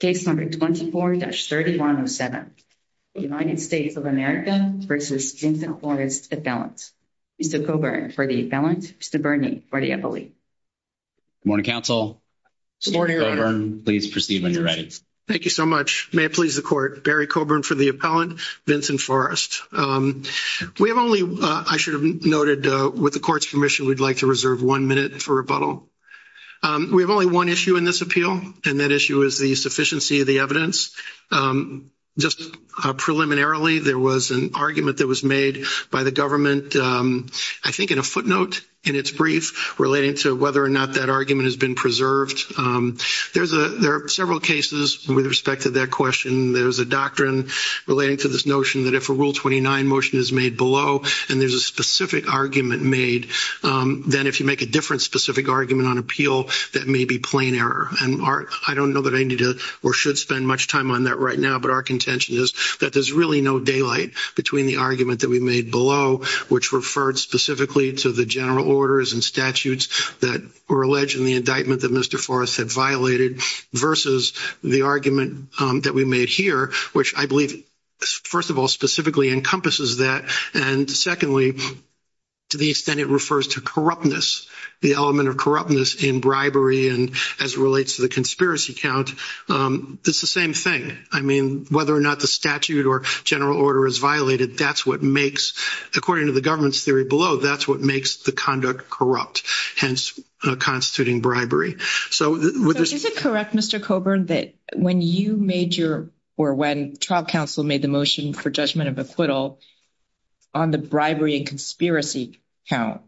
case number 24-3107. United States of America v. Vincent Forrest appellant. Mr. Coburn for the appellant. Mr. Burney for the appellate. Good morning, counsel. Mr. Coburn, please proceed when you're ready. Thank you so much. May it please the court, Barry Coburn for the appellant, Vincent Forrest. We have only, I should have noted, with the court's commission, we'd like to reserve one minute for rebuttal. We have only one issue in this appeal and that issue is the insufficiency of the evidence. Just preliminarily, there was an argument that was made by the government, I think in a footnote in its brief relating to whether or not that argument has been preserved. There are several cases with respect to that question. There's a doctrine relating to this notion that if a Rule 29 motion is made below and there's a specific argument made, then if you make a different specific argument on appeal, that may be plain error. And I don't know that I need to or should spend much time on that right now, but our contention is that there's really no daylight between the argument that we made below, which referred specifically to the general orders and statutes that were alleged in the indictment that Mr. Forrest had violated versus the argument that we made here, which I believe, first of all, specifically encompasses that. And secondly, to the extent it refers to corruptness, the element of corruptness in bribery and as it relates to the conspiracy count, it's the same thing. I mean, whether or not the statute or general order is violated, that's what makes, according to the government's theory below, that's what makes the conduct corrupt, hence constituting bribery. So is it correct, Mr. Coburn, that when you made your, or when trial counsel made the motion for judgment of acquittal on the bribery and conspiracy count,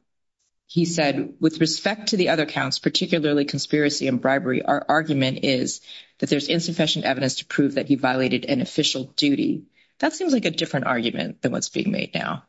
he said, with respect to the other counts, particularly conspiracy and bribery, our argument is that there's insufficient evidence to prove that he violated an official duty. That seems like a different argument than what's being made now.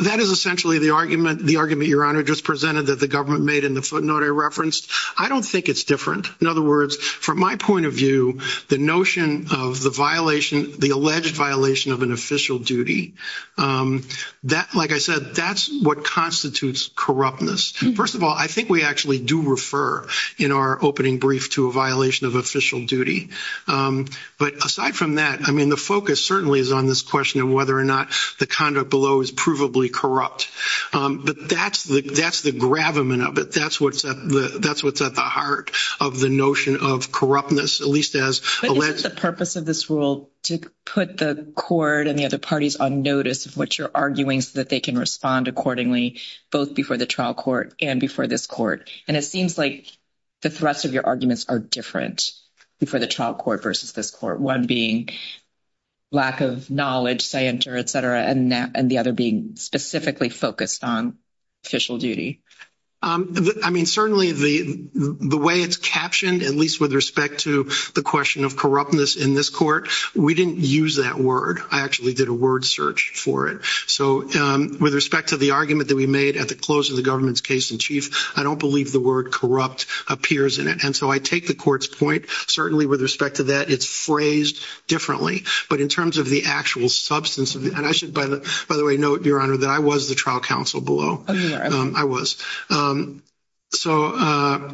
That is essentially the argument, the argument your honor just presented that the government made in the footnote I referenced. I don't think it's different. In other words, from my point of view, the notion of the violation, the alleged violation of an official duty, that, like I said, that's what constitutes corruptness. First of all, I think we actually do refer in our opening brief to a violation of official duty. But aside from that, I mean, the focus certainly is on this question of whether or not the conduct below is provably corrupt. But that's the gravamen of it. That's what's at the heart of the notion of corruptness, at least as alleged. But is it the purpose of this rule to put the court and the other parties on notice of what you're arguing so that they can respond accordingly, both before the trial court and before this court? And it seems like the thrust of your arguments are different before the trial court versus this court, one being lack of knowledge, scienter, et cetera, and the other being specifically focused on official duty. I mean, certainly the way it's captioned, at least with respect to the question of corruptness in this court, we didn't use that word. I actually did a word search for it. So with respect to the argument that we made at the close of the government's case in chief, I don't believe the word corrupt appears in it. And so I take the court's point. Certainly with respect to that, it's phrased differently. But in terms of the actual substance of it, and I should, by the way, note, Your Honor, that I was the trial counsel below. I was. So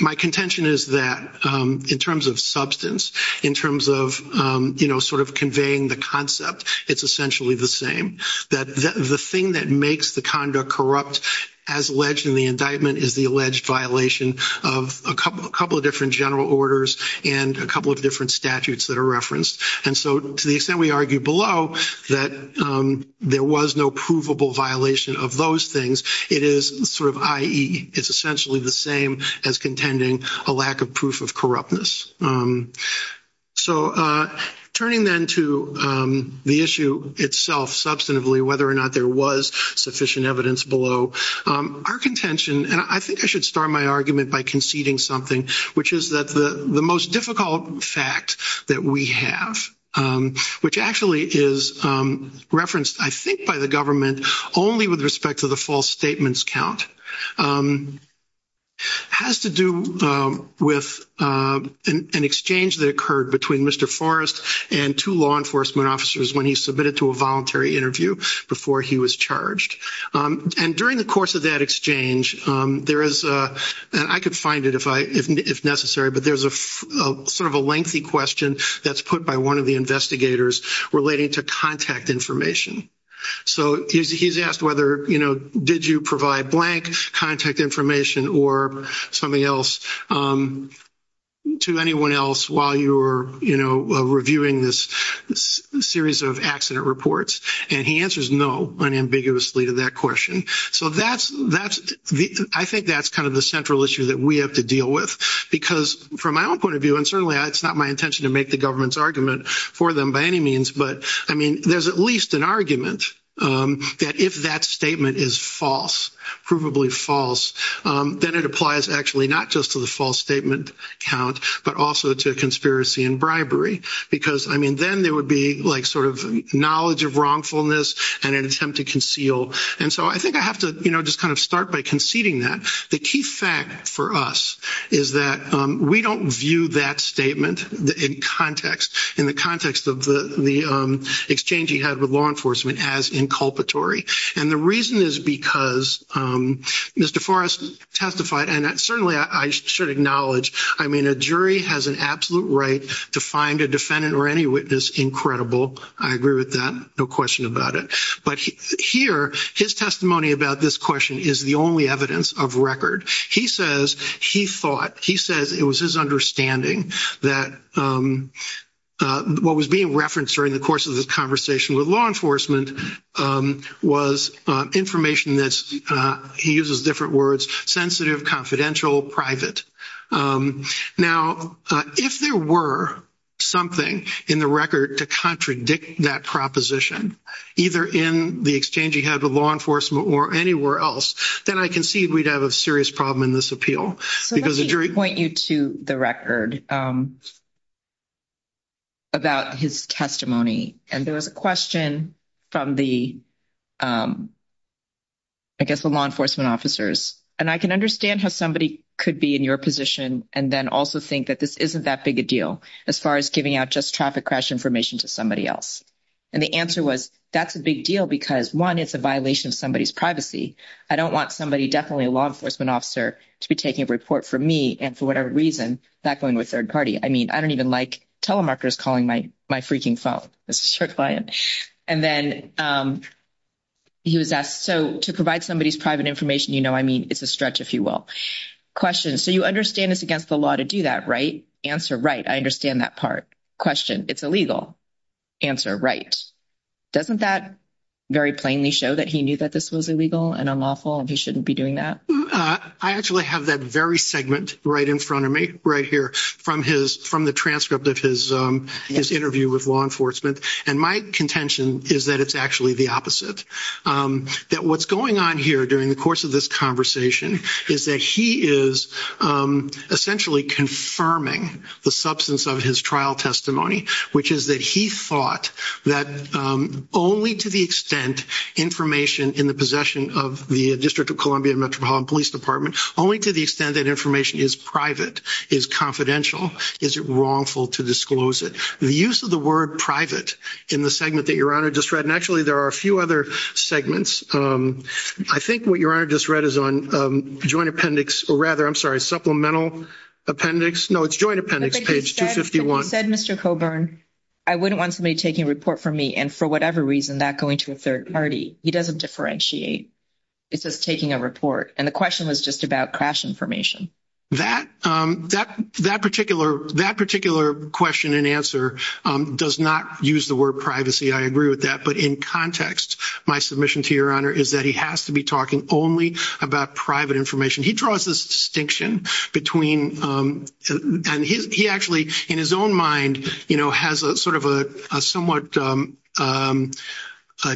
my contention is that in terms of substance, in terms of, you know, sort of conveying the concept, it's essentially the same, that the thing that makes the conduct corrupt as alleged in the indictment is the alleged violation of a couple of different general orders and a couple of different statutes that are referenced. And so to the extent we argue below that there was no provable violation of those things, it is sort of, i.e., it's essentially the same as contending a lack of proof of corruptness. So turning then to the issue itself, substantively, whether or not there was sufficient evidence below, our contention, and I think I should start my argument by conceding something, which is that the most difficult fact that we have, which actually is referenced, I think, by the government only with respect to the false statements count, has to do with an exchange that occurred between Mr. Forrest and two law enforcement officers when he submitted to a voluntary interview before he was charged. And during the course of that exchange, there is, and I could find it if necessary, but there's a sort of a lengthy question that's put by one of the investigators relating to contact information. So he's asked whether, you know, did you provide blank contact information or something else to anyone else while you were, you know, reviewing this series of accident reports, and he answers no unambiguously to that question. So that's, I think that's kind of the central issue that we have to deal with. Because from my own point of view, and certainly it's not my intention to make the government's argument for them by any means, but I mean, there's at least an argument that if that statement is false, provably false, then it applies actually not just to the false statement count, but also to conspiracy and bribery. Because I mean, then there would be like sort of knowledge of wrongfulness and an attempt to conceal. And so I think I have to, you know, just kind of start by conceding that the key fact for us is that we don't view that statement in context, in the context of the exchange he had with law enforcement as inculpatory. And the reason is because Mr. Forrest testified, and certainly I should acknowledge, I mean, a jury has an absolute right to find a defendant or any witness incredible. I agree with that, no question about it. But here, his testimony about this question is the only evidence of record. He says, he thought, he says it was his understanding that what was being referenced during the course of this conversation with law enforcement was information that's, he uses different words, sensitive, confidential, private. Now, if there were something in the record to contradict that proposition, either in the exchange he had with law enforcement or anywhere else, then I concede we'd have a serious problem in this appeal. So let me point you to the record about his testimony. And there was a question from the, I guess the law enforcement officers. And I can understand how somebody could be in your position and then also think that this isn't that big a deal as far as giving out just traffic crash information to somebody else. And the answer was, that's a big deal because one, it's a violation of somebody's privacy. I don't want somebody, definitely a law enforcement officer, to be taking a report from me and for whatever reason, that going with third party. I mean, I don't even like telemarketers calling my freaking phone. That's a sure client. And then he was asked, so to provide somebody's private information, you know, I mean, it's a stretch, if you will. Question, so you understand it's against the law to do that, right? Answer, right, I understand that part. Question, it's illegal. Answer, right. Doesn't that very plainly show that he knew that this was illegal and unlawful and he shouldn't be doing that? I actually have that very segment right in front of me right here from the transcript of his interview with law enforcement. And my contention is that it's actually the opposite. That what's going on here during the course of this conversation is that he is essentially confirming the substance of his trial testimony, which is that he thought that only to the extent information in the possession of the District of Columbia and Metropolitan Police Department, only to the extent that information is private, is confidential, is it wrongful to disclose it? The use of the word private in the segment that Your Honor just and actually there are a few other segments. I think what Your Honor just read is on joint appendix, or rather, I'm sorry, supplemental appendix. No, it's joint appendix, page 251. He said, Mr. Coburn, I wouldn't want somebody taking a report from me and for whatever reason not going to a third party. He doesn't differentiate. It's just taking a report. And the question was just about crash information. That particular question and answer does not use the word privacy. I agree with that. But in context, my submission to Your Honor is that he has to be talking only about private information. He draws this distinction between and he actually in his own mind, you know, has a sort of a somewhat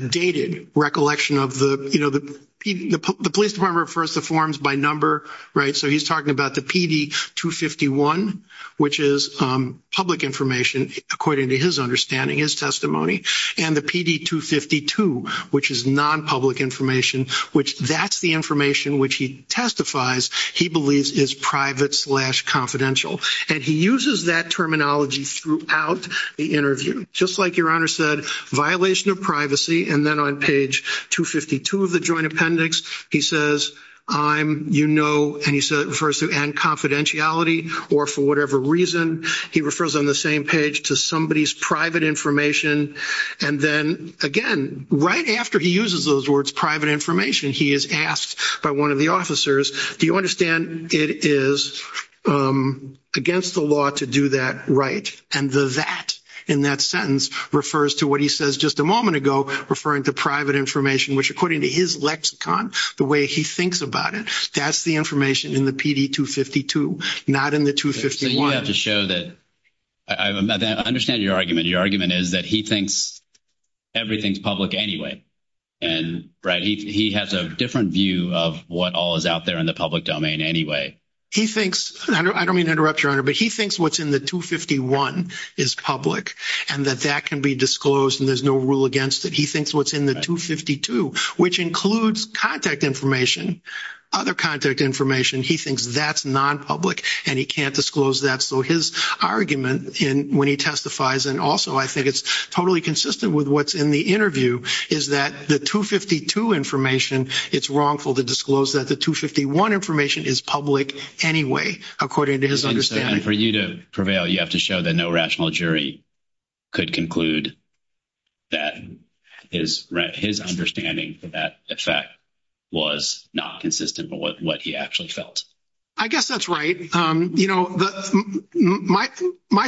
dated recollection of the, you know, the police department refers to forms by number, right? So he's talking about the PD251, which is public information, according to his understanding, his testimony, and the PD252, which is non-public information, which that's the information which he testifies he believes is private slash confidential. And he uses that terminology throughout the interview, just like Your Honor said, violation of privacy. And then on page 252 of the joint appendix, he says, I'm, you know, and he refers to confidentiality or for whatever reason, he refers on the same page to somebody's private information. And then again, right after he uses those words private information, he is asked by one of the officers, do you understand it is against the law to do that, right? And the that in that sentence refers to what he says just a the way he thinks about it. That's the information in the PD252, not in the 251. So you have to show that I understand your argument. Your argument is that he thinks everything's public anyway. And right, he has a different view of what all is out there in the public domain anyway. He thinks, I don't mean to interrupt Your Honor, but he thinks what's in the 251 is public and that that can be disclosed and there's no rule against it. He thinks what's in the 252, which includes contact information, other contact information, he thinks that's non-public and he can't disclose that. So his argument in when he testifies and also I think it's totally consistent with what's in the interview is that the 252 information, it's wrongful to disclose that the 251 information is public anyway, according to his understanding. And for you to prevail, you have to show that no rational jury could conclude that his understanding for that effect was not consistent with what he actually felt. I guess that's right. You know, my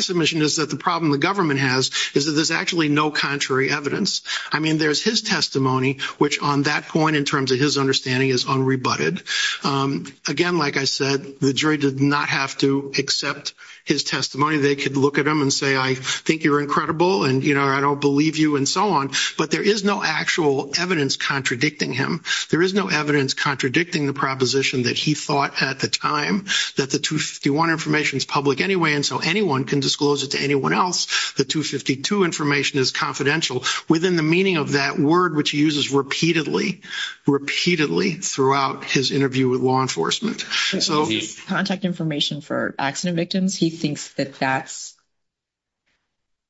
submission is that the problem the government has is that there's actually no contrary evidence. I mean, there's his testimony, which on that point in terms of his understanding is unrebutted. Again, like I said, the jury did not have to accept his testimony. They could look at him and say, I think you're incredible and you know, I don't believe you and so on. But there is no actual evidence contradicting him. There is no evidence contradicting the proposition that he thought at the time that the 251 information is public anyway and so anyone can disclose it to anyone else. The 252 information is confidential within the meaning of that word, which he uses repeatedly, repeatedly throughout his interview with law enforcement. So contact information for accident victims. He thinks that that's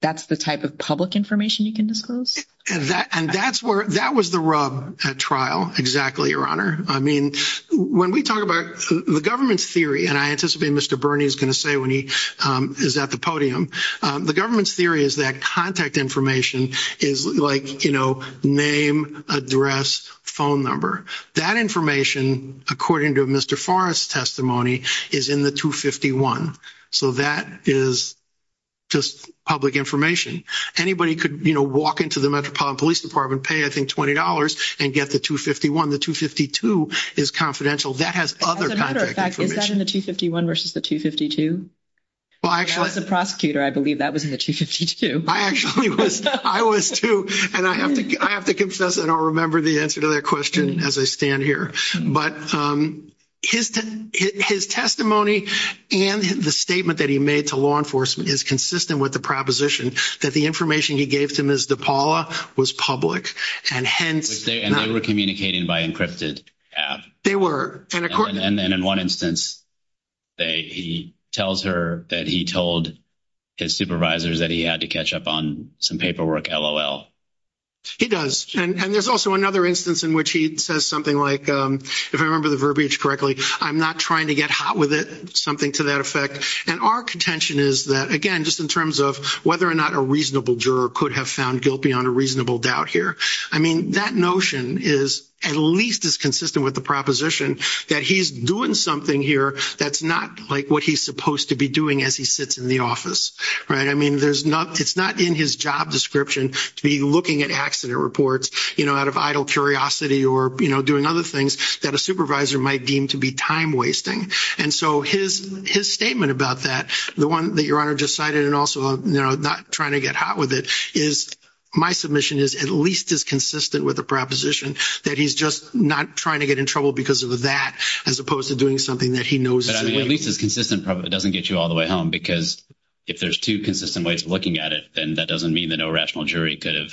that's the type of public information you can disclose. And that's where that was the rub at trial. Exactly, Your Honor. I mean, when we talk about the government's theory, and I anticipate Mr. Bernie is going to say when he is at the podium, the government's theory is that contact information is like, you know, name, address, phone number. That information, according to Mr. Forrest's testimony, is in the 251. So that is just public information. Anybody could, you know, walk into the Metropolitan Police Department, pay, I think, $20 and get the 251. The 252 is confidential. That has other contact information. Is that in the 251 versus the 252? As a prosecutor, I believe that was in the 252. I actually was. I was too. And I have to confess, I don't remember the answer to that question as I stand here. But his testimony and the statement that he made to law enforcement is consistent with the proposition that the information he gave to Ms. DePaula was public and hence... And they were communicating by encrypted app. They were. And in one instance, he tells her that he told his supervisors that he had to catch up on some paperwork, lol. He does. And there's also another instance in which he says something like, if I remember the verbiage correctly, I'm not trying to get hot with it, something to that effect. And our contention is that, again, just in terms of whether or not a reasonable juror could have found guilt beyond a doubt here. I mean, that notion is at least as consistent with the proposition that he's doing something here that's not like what he's supposed to be doing as he sits in the office. I mean, it's not in his job description to be looking at accident reports out of idle curiosity or doing other things that a supervisor might deem to be time-wasting. And so his statement about that, the one that Your Honor just cited, and also not trying to get hot with it, is my submission is at least as consistent with a proposition that he's just not trying to get in trouble because of that, as opposed to doing something that he knows is the way to do it. But I mean, at least it's consistent, but it doesn't get you all the way home, because if there's two consistent ways of looking at it, then that doesn't mean that no rational jury could have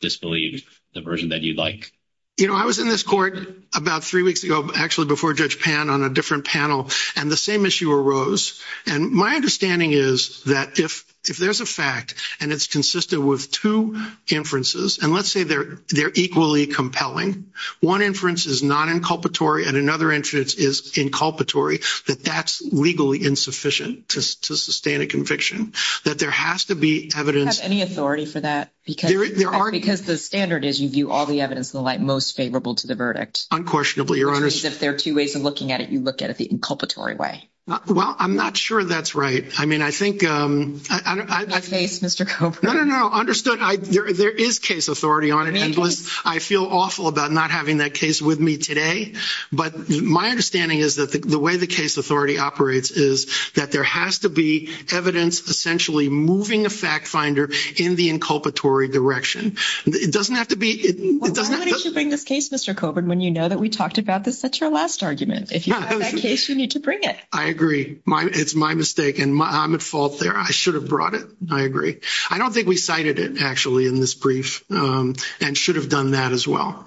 disbelieved the version that you'd like. You know, I was in this court about three weeks ago, actually before Judge Pan on a different panel, and the same issue arose. And my understanding is that if there's a fact, and it's consistent with two inferences, and let's say they're equally compelling, one inference is non-inculpatory and another inference is inculpatory, that that's legally insufficient to sustain a conviction. That there has to be evidence— Do you have any authority for that? Because the standard is you view all the evidence in the light most favorable to the verdict. Unquestionably, Your Honor. Which means if there are two ways of looking at it, you look at it the inculpatory way. Well, I'm not sure that's right. I mean, I think— Not my face, Mr. Coburn. No, no, no, understood. There is case authority on it, and I feel awful about not having that case with me today. But my understanding is that the way the case authority operates is that there has to be evidence essentially moving a fact finder in the inculpatory direction. It doesn't have to be— Well, why wouldn't you bring this case, Mr. Coburn, when you know that we talked about this at your last argument? If you have that case, you need to bring it. I agree. It's my mistake, and I'm at fault there. I should have brought it. I agree. I don't think we cited it, actually, in this brief and should have done that as well.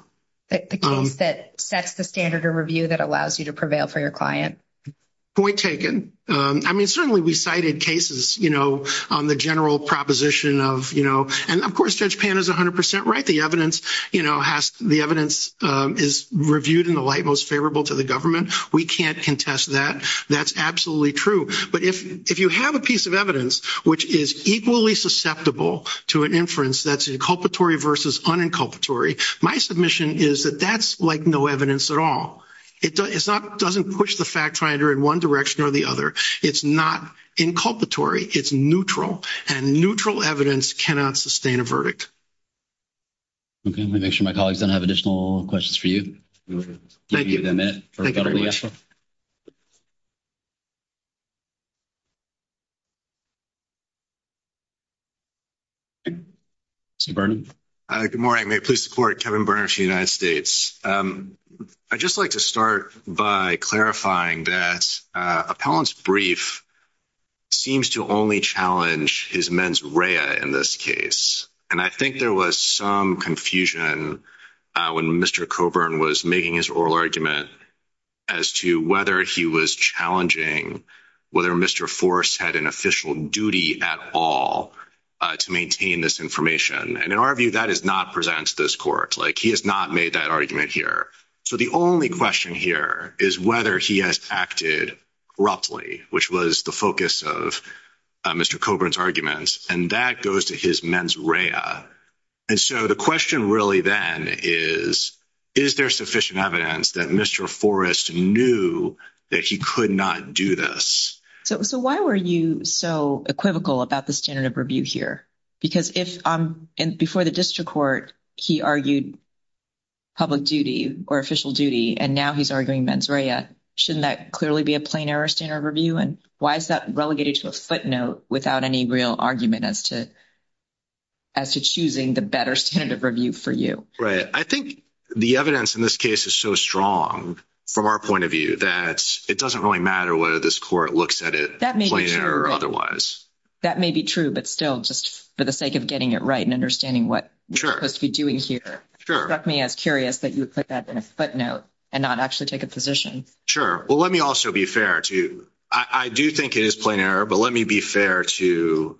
The case that sets the standard of review that allows you to prevail for your client. Point taken. I mean, certainly we cited cases on the general proposition of—and, of course, Judge Pan is 100 percent right. The evidence is reviewed in the light most to the government. We can't contest that. That's absolutely true. But if you have a piece of evidence which is equally susceptible to an inference that's inculpatory versus uninculpatory, my submission is that that's like no evidence at all. It doesn't push the fact finder in one direction or the other. It's not inculpatory. It's neutral, and neutral evidence cannot sustain a verdict. Okay. Let me make sure my colleagues don't have additional questions for you. Thank you. Thank you very much. Mr. Burnett. Good morning. May it please the Court, Kevin Burnett for the United States. I'd just like to start by clarifying that Appellant's brief seems to only challenge his mens rea in this case. And I think there was some confusion when Mr. Coburn was making his oral argument as to whether he was challenging whether Mr. Forrest had an official duty at all to maintain this information. And in our view, that does not present to this Court. Like, he has not made that argument here. So the only question here is whether he has acted abruptly, which was the focus of Mr. Coburn's arguments, and that goes to his mens rea. And so the question really then is, is there sufficient evidence that Mr. Forrest knew that he could not do this? So why were you so equivocal about the standard of review here? Because if before the district court, he argued public duty or official duty, and now he's arguing mens rea, shouldn't that clearly be a plain error standard of review? And why is that relegated to a footnote without any real argument as to choosing the better standard of review for you? Right. I think the evidence in this case is so strong from our point of view that it doesn't really matter whether this Court looks at it plain or otherwise. That may be true, but still, just for the sake of getting it right and understanding what you're supposed to be doing here, it struck me as curious that you would put that in a footnote and not actually take a position. Sure. Well, let me also be fair to you. I do think it is plain error, but let me be fair to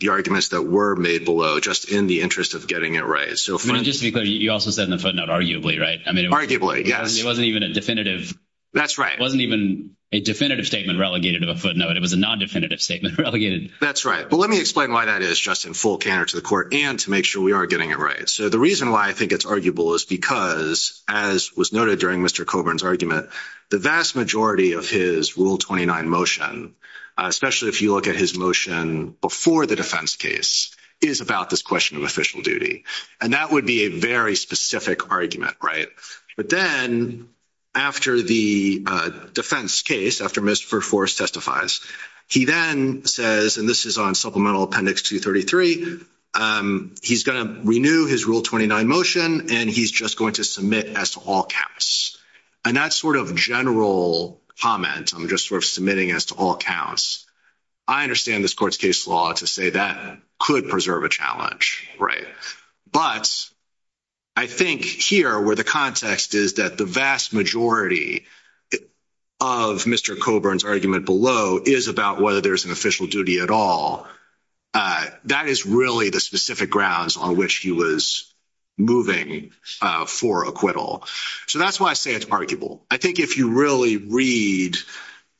the arguments that were made below just in the interest of getting it right. So just to be clear, you also said in the footnote, arguably, right? I mean, arguably, yes. It wasn't even a definitive. That's right. It wasn't even a definitive statement relegated to a footnote. It was a non-definitive statement relegated. That's right. But let me explain why that is just in full canter to the Court and to make sure we are getting it right. So the reason why I think it's arguable is because, as was noted during Mr. Coburn's argument, the vast majority of his Rule 29 motion, especially if you look at his motion before the defense case, is about this question of official duty. And that would be a very specific argument, right? But then after the defense case, after Mr. Forrest testifies, he then says, and this is on Supplemental Appendix 233, he's going to renew his Rule 29 motion, and he's just going to submit as to all counts. And that sort of general comment, I'm just sort of submitting as to all counts, I understand this Court's case law to say that could preserve a challenge, right? But I think here, where the context is that the vast majority of Mr. Coburn's argument below is about whether there's an official duty at all, that is really the specific grounds on which he was moving for acquittal. So that's why I say it's arguable. I think if you really read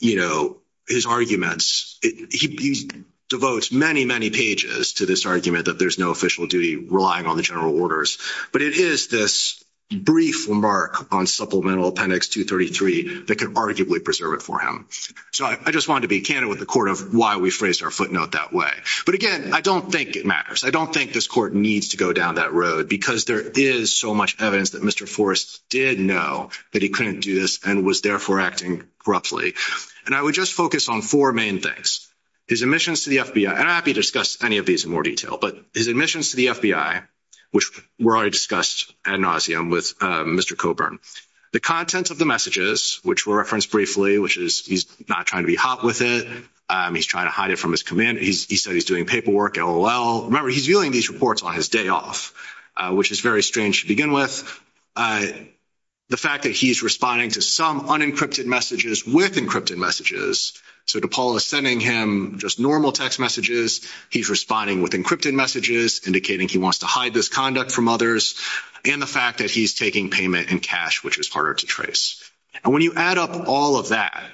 his arguments, he devotes many, many pages to this argument that there's no official duty relying on the general orders. But it is this brief remark on Supplemental Appendix 233 that can arguably preserve it for him. So I just wanted to be candid with the Court of why we phrased our footnote that way. But again, I don't think it matters. I don't think this Court needs to go down that road because there is so much evidence that Mr. Forrest did know that he couldn't do this and was therefore acting corruptly. And I would just focus on four main things. His admissions to the FBI, and I'm happy to discuss any of these in more detail, but his admissions to the FBI, which were already discussed ad nauseum with Mr. Coburn, the contents of the He's not trying to be hot with it. He's trying to hide it from his commander. He said he's doing paperwork, LOL. Remember, he's viewing these reports on his day off, which is very strange to begin with. The fact that he's responding to some unencrypted messages with encrypted messages. So DePaul is sending him just normal text messages. He's responding with encrypted messages indicating he wants to hide this conduct from others. And the fact that he's taking payment in cash, which is harder to trace. And when you add up all of that,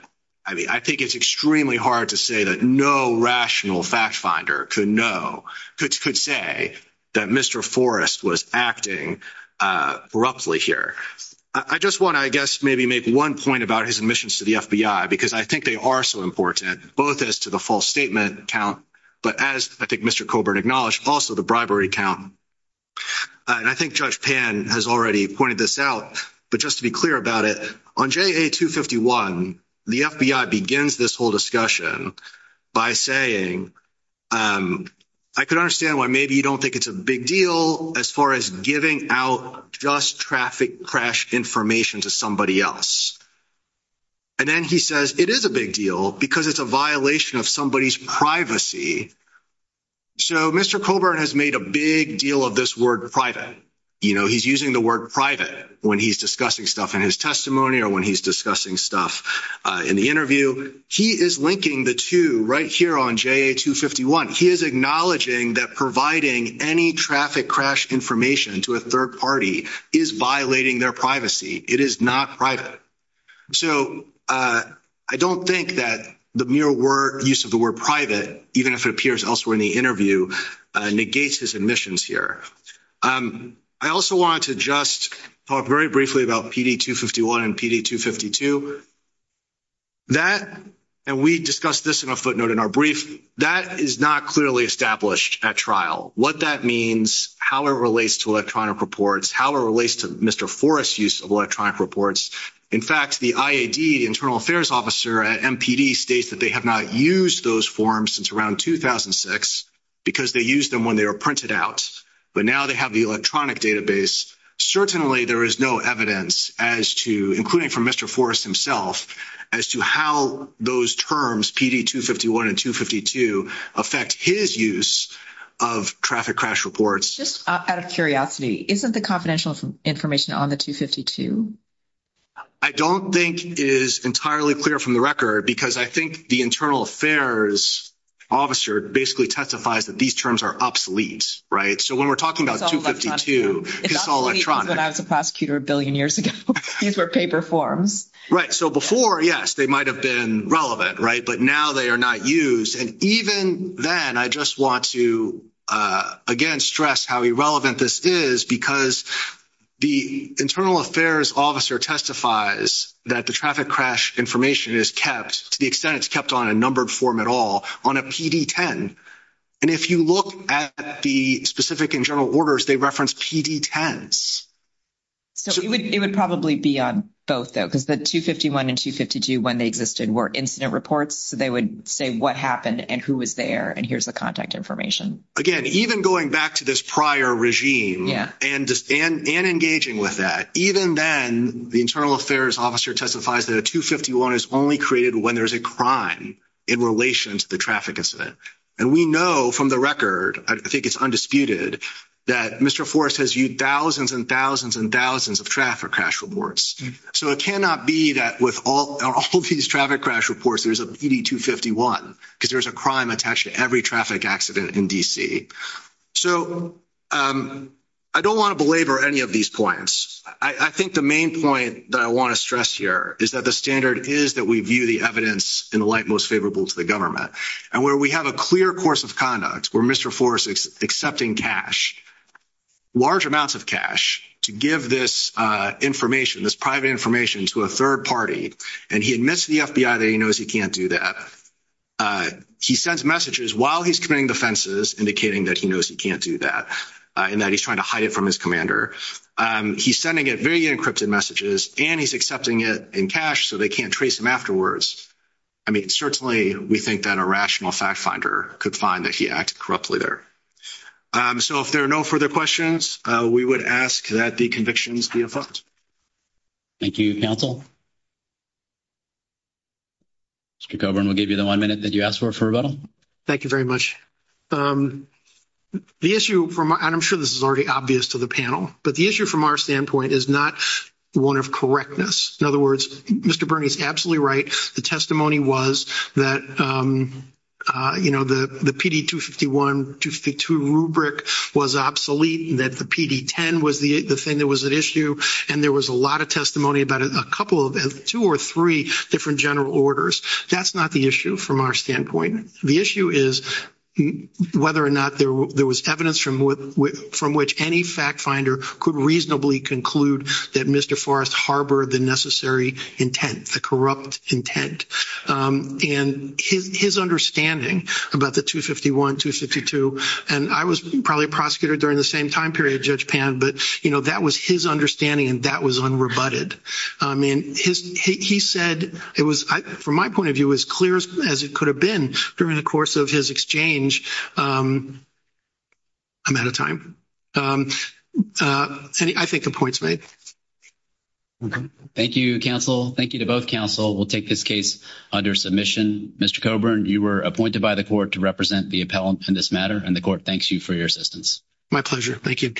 I mean, I think it's extremely hard to say that no rational fact finder could know, could say that Mr. Forrest was acting corruptly here. I just want to, I guess, maybe make one point about his admissions to the FBI, because I think they are so important, both as to the false statement count, but as I think Mr. Coburn acknowledged, also the bribery count. And I think Judge Pan has already pointed this out, but just to be clear about it, on JA 251, the FBI begins this whole discussion by saying, I could understand why maybe you don't think it's a big deal as far as giving out just traffic crash information to somebody else. And then he says it is a big deal because it's a violation of somebody's privacy. So Mr. Coburn has made a big deal of this word private. He's using the word private when he's discussing stuff in his testimony or when he's discussing stuff in the interview. He is linking the two right here on JA 251. He is acknowledging that providing any traffic crash information to a third party is violating their privacy. It is not private. So I don't think that the mere use of the word private, even if it appears elsewhere in the interview, negates his admissions here. I also wanted to just talk very briefly about PD 251 and PD 252. That, and we discussed this in a footnote in our brief, that is not clearly established at trial. What that means, how it relates to electronic reports, how it relates to Mr. Forrest's use of electronic reports. In fact, the IAD, the internal affairs officer at MPD, states that they have not used those forms since around 2006 because they used them when they were printed out. But now they have the electronic database. Certainly there is no evidence as to, including from Mr. Forrest himself, as to how those terms, PD 251 and 252, affect his use of traffic crash reports. Just out of curiosity, isn't the confidential information on the 252? I don't think it is entirely clear from the record because I think the internal affairs officer basically testifies that these terms are obsolete, right? So when we're talking about 252, it's all electronic. It's obsolete because I was a prosecutor a billion years ago. These were paper forms. Right. So before, yes, they might have been relevant, right? But now they are not used. And even then, I just want to, again, stress how irrelevant this is because the internal affairs officer testifies that the traffic crash information is kept, to the extent it's kept on a numbered form at all, on a PD 10. And if you look at the specific and general orders, they reference PD 10s. So it would probably be on both though, because the 251 and 252, when they existed, were incident reports. So they would say what happened and who was there, and here's the contact information. Again, even going back to this prior regime, and engaging with that, even then, the internal affairs officer testifies that a 251 is only created when there's a crime in relation to the traffic incident. And we know from the record, I think it's undisputed, that Mr. Forrest has used thousands and thousands and thousands of traffic crash reports. So it cannot be that with all these traffic crash reports, there's a PD 251 because there's a crime attached to every traffic accident in D.C. So I don't want to belabor any of these points. I think the main point that I want to stress here is that the standard is that we view the evidence in the light most favorable to the government. And where we have a clear course of conduct, where Mr. Forrest is accepting cash, large amounts of cash, to give this information, this private information, to a third party, and he admits to the FBI that he knows he can't do that, he sends messages while he's committing offenses, indicating that he knows he can't do that, and that he's trying to hide it from his commander. He's sending it very encrypted messages, and he's accepting it in cash so they can't trace him afterwards. I mean, certainly, we think that a rational fact finder could find that he acted corruptly there. So if there are no further questions, we would ask that the convictions be approved. Thank you, counsel. Mr. Coburn, we'll give you the one minute that you asked for, for rebuttal. Thank you very much. The issue, and I'm sure this is already obvious to the panel, but the issue from our standpoint is not one of correctness. In other words, Mr. Burney's absolutely right. The testimony was that, you know, the PD 251, 252 rubric was obsolete, that the PD 10 was the thing that was at issue, and there was a lot of testimony about a couple of, two or three different general orders. That's not the issue from our standpoint. The issue is whether or not there was evidence from which any fact finder could reasonably conclude that Mr. Forrest harbored the necessary intent, the corrupt intent. And his understanding about the 251, 252, and I was probably a prosecutor during the same time period, Judge Pan, but, you know, that was his understanding, and that was unrebutted. I mean, he said it was, from my point of view, as clear as it could have been during the course of his exchange. I'm out of time. And I think the point's made. Thank you, counsel. Thank you to both counsel. We'll take this case under submission. Mr. Coburn, you were appointed by the court to represent the appellant in this matter, and the court thanks you for your assistance. My pleasure. Thank you.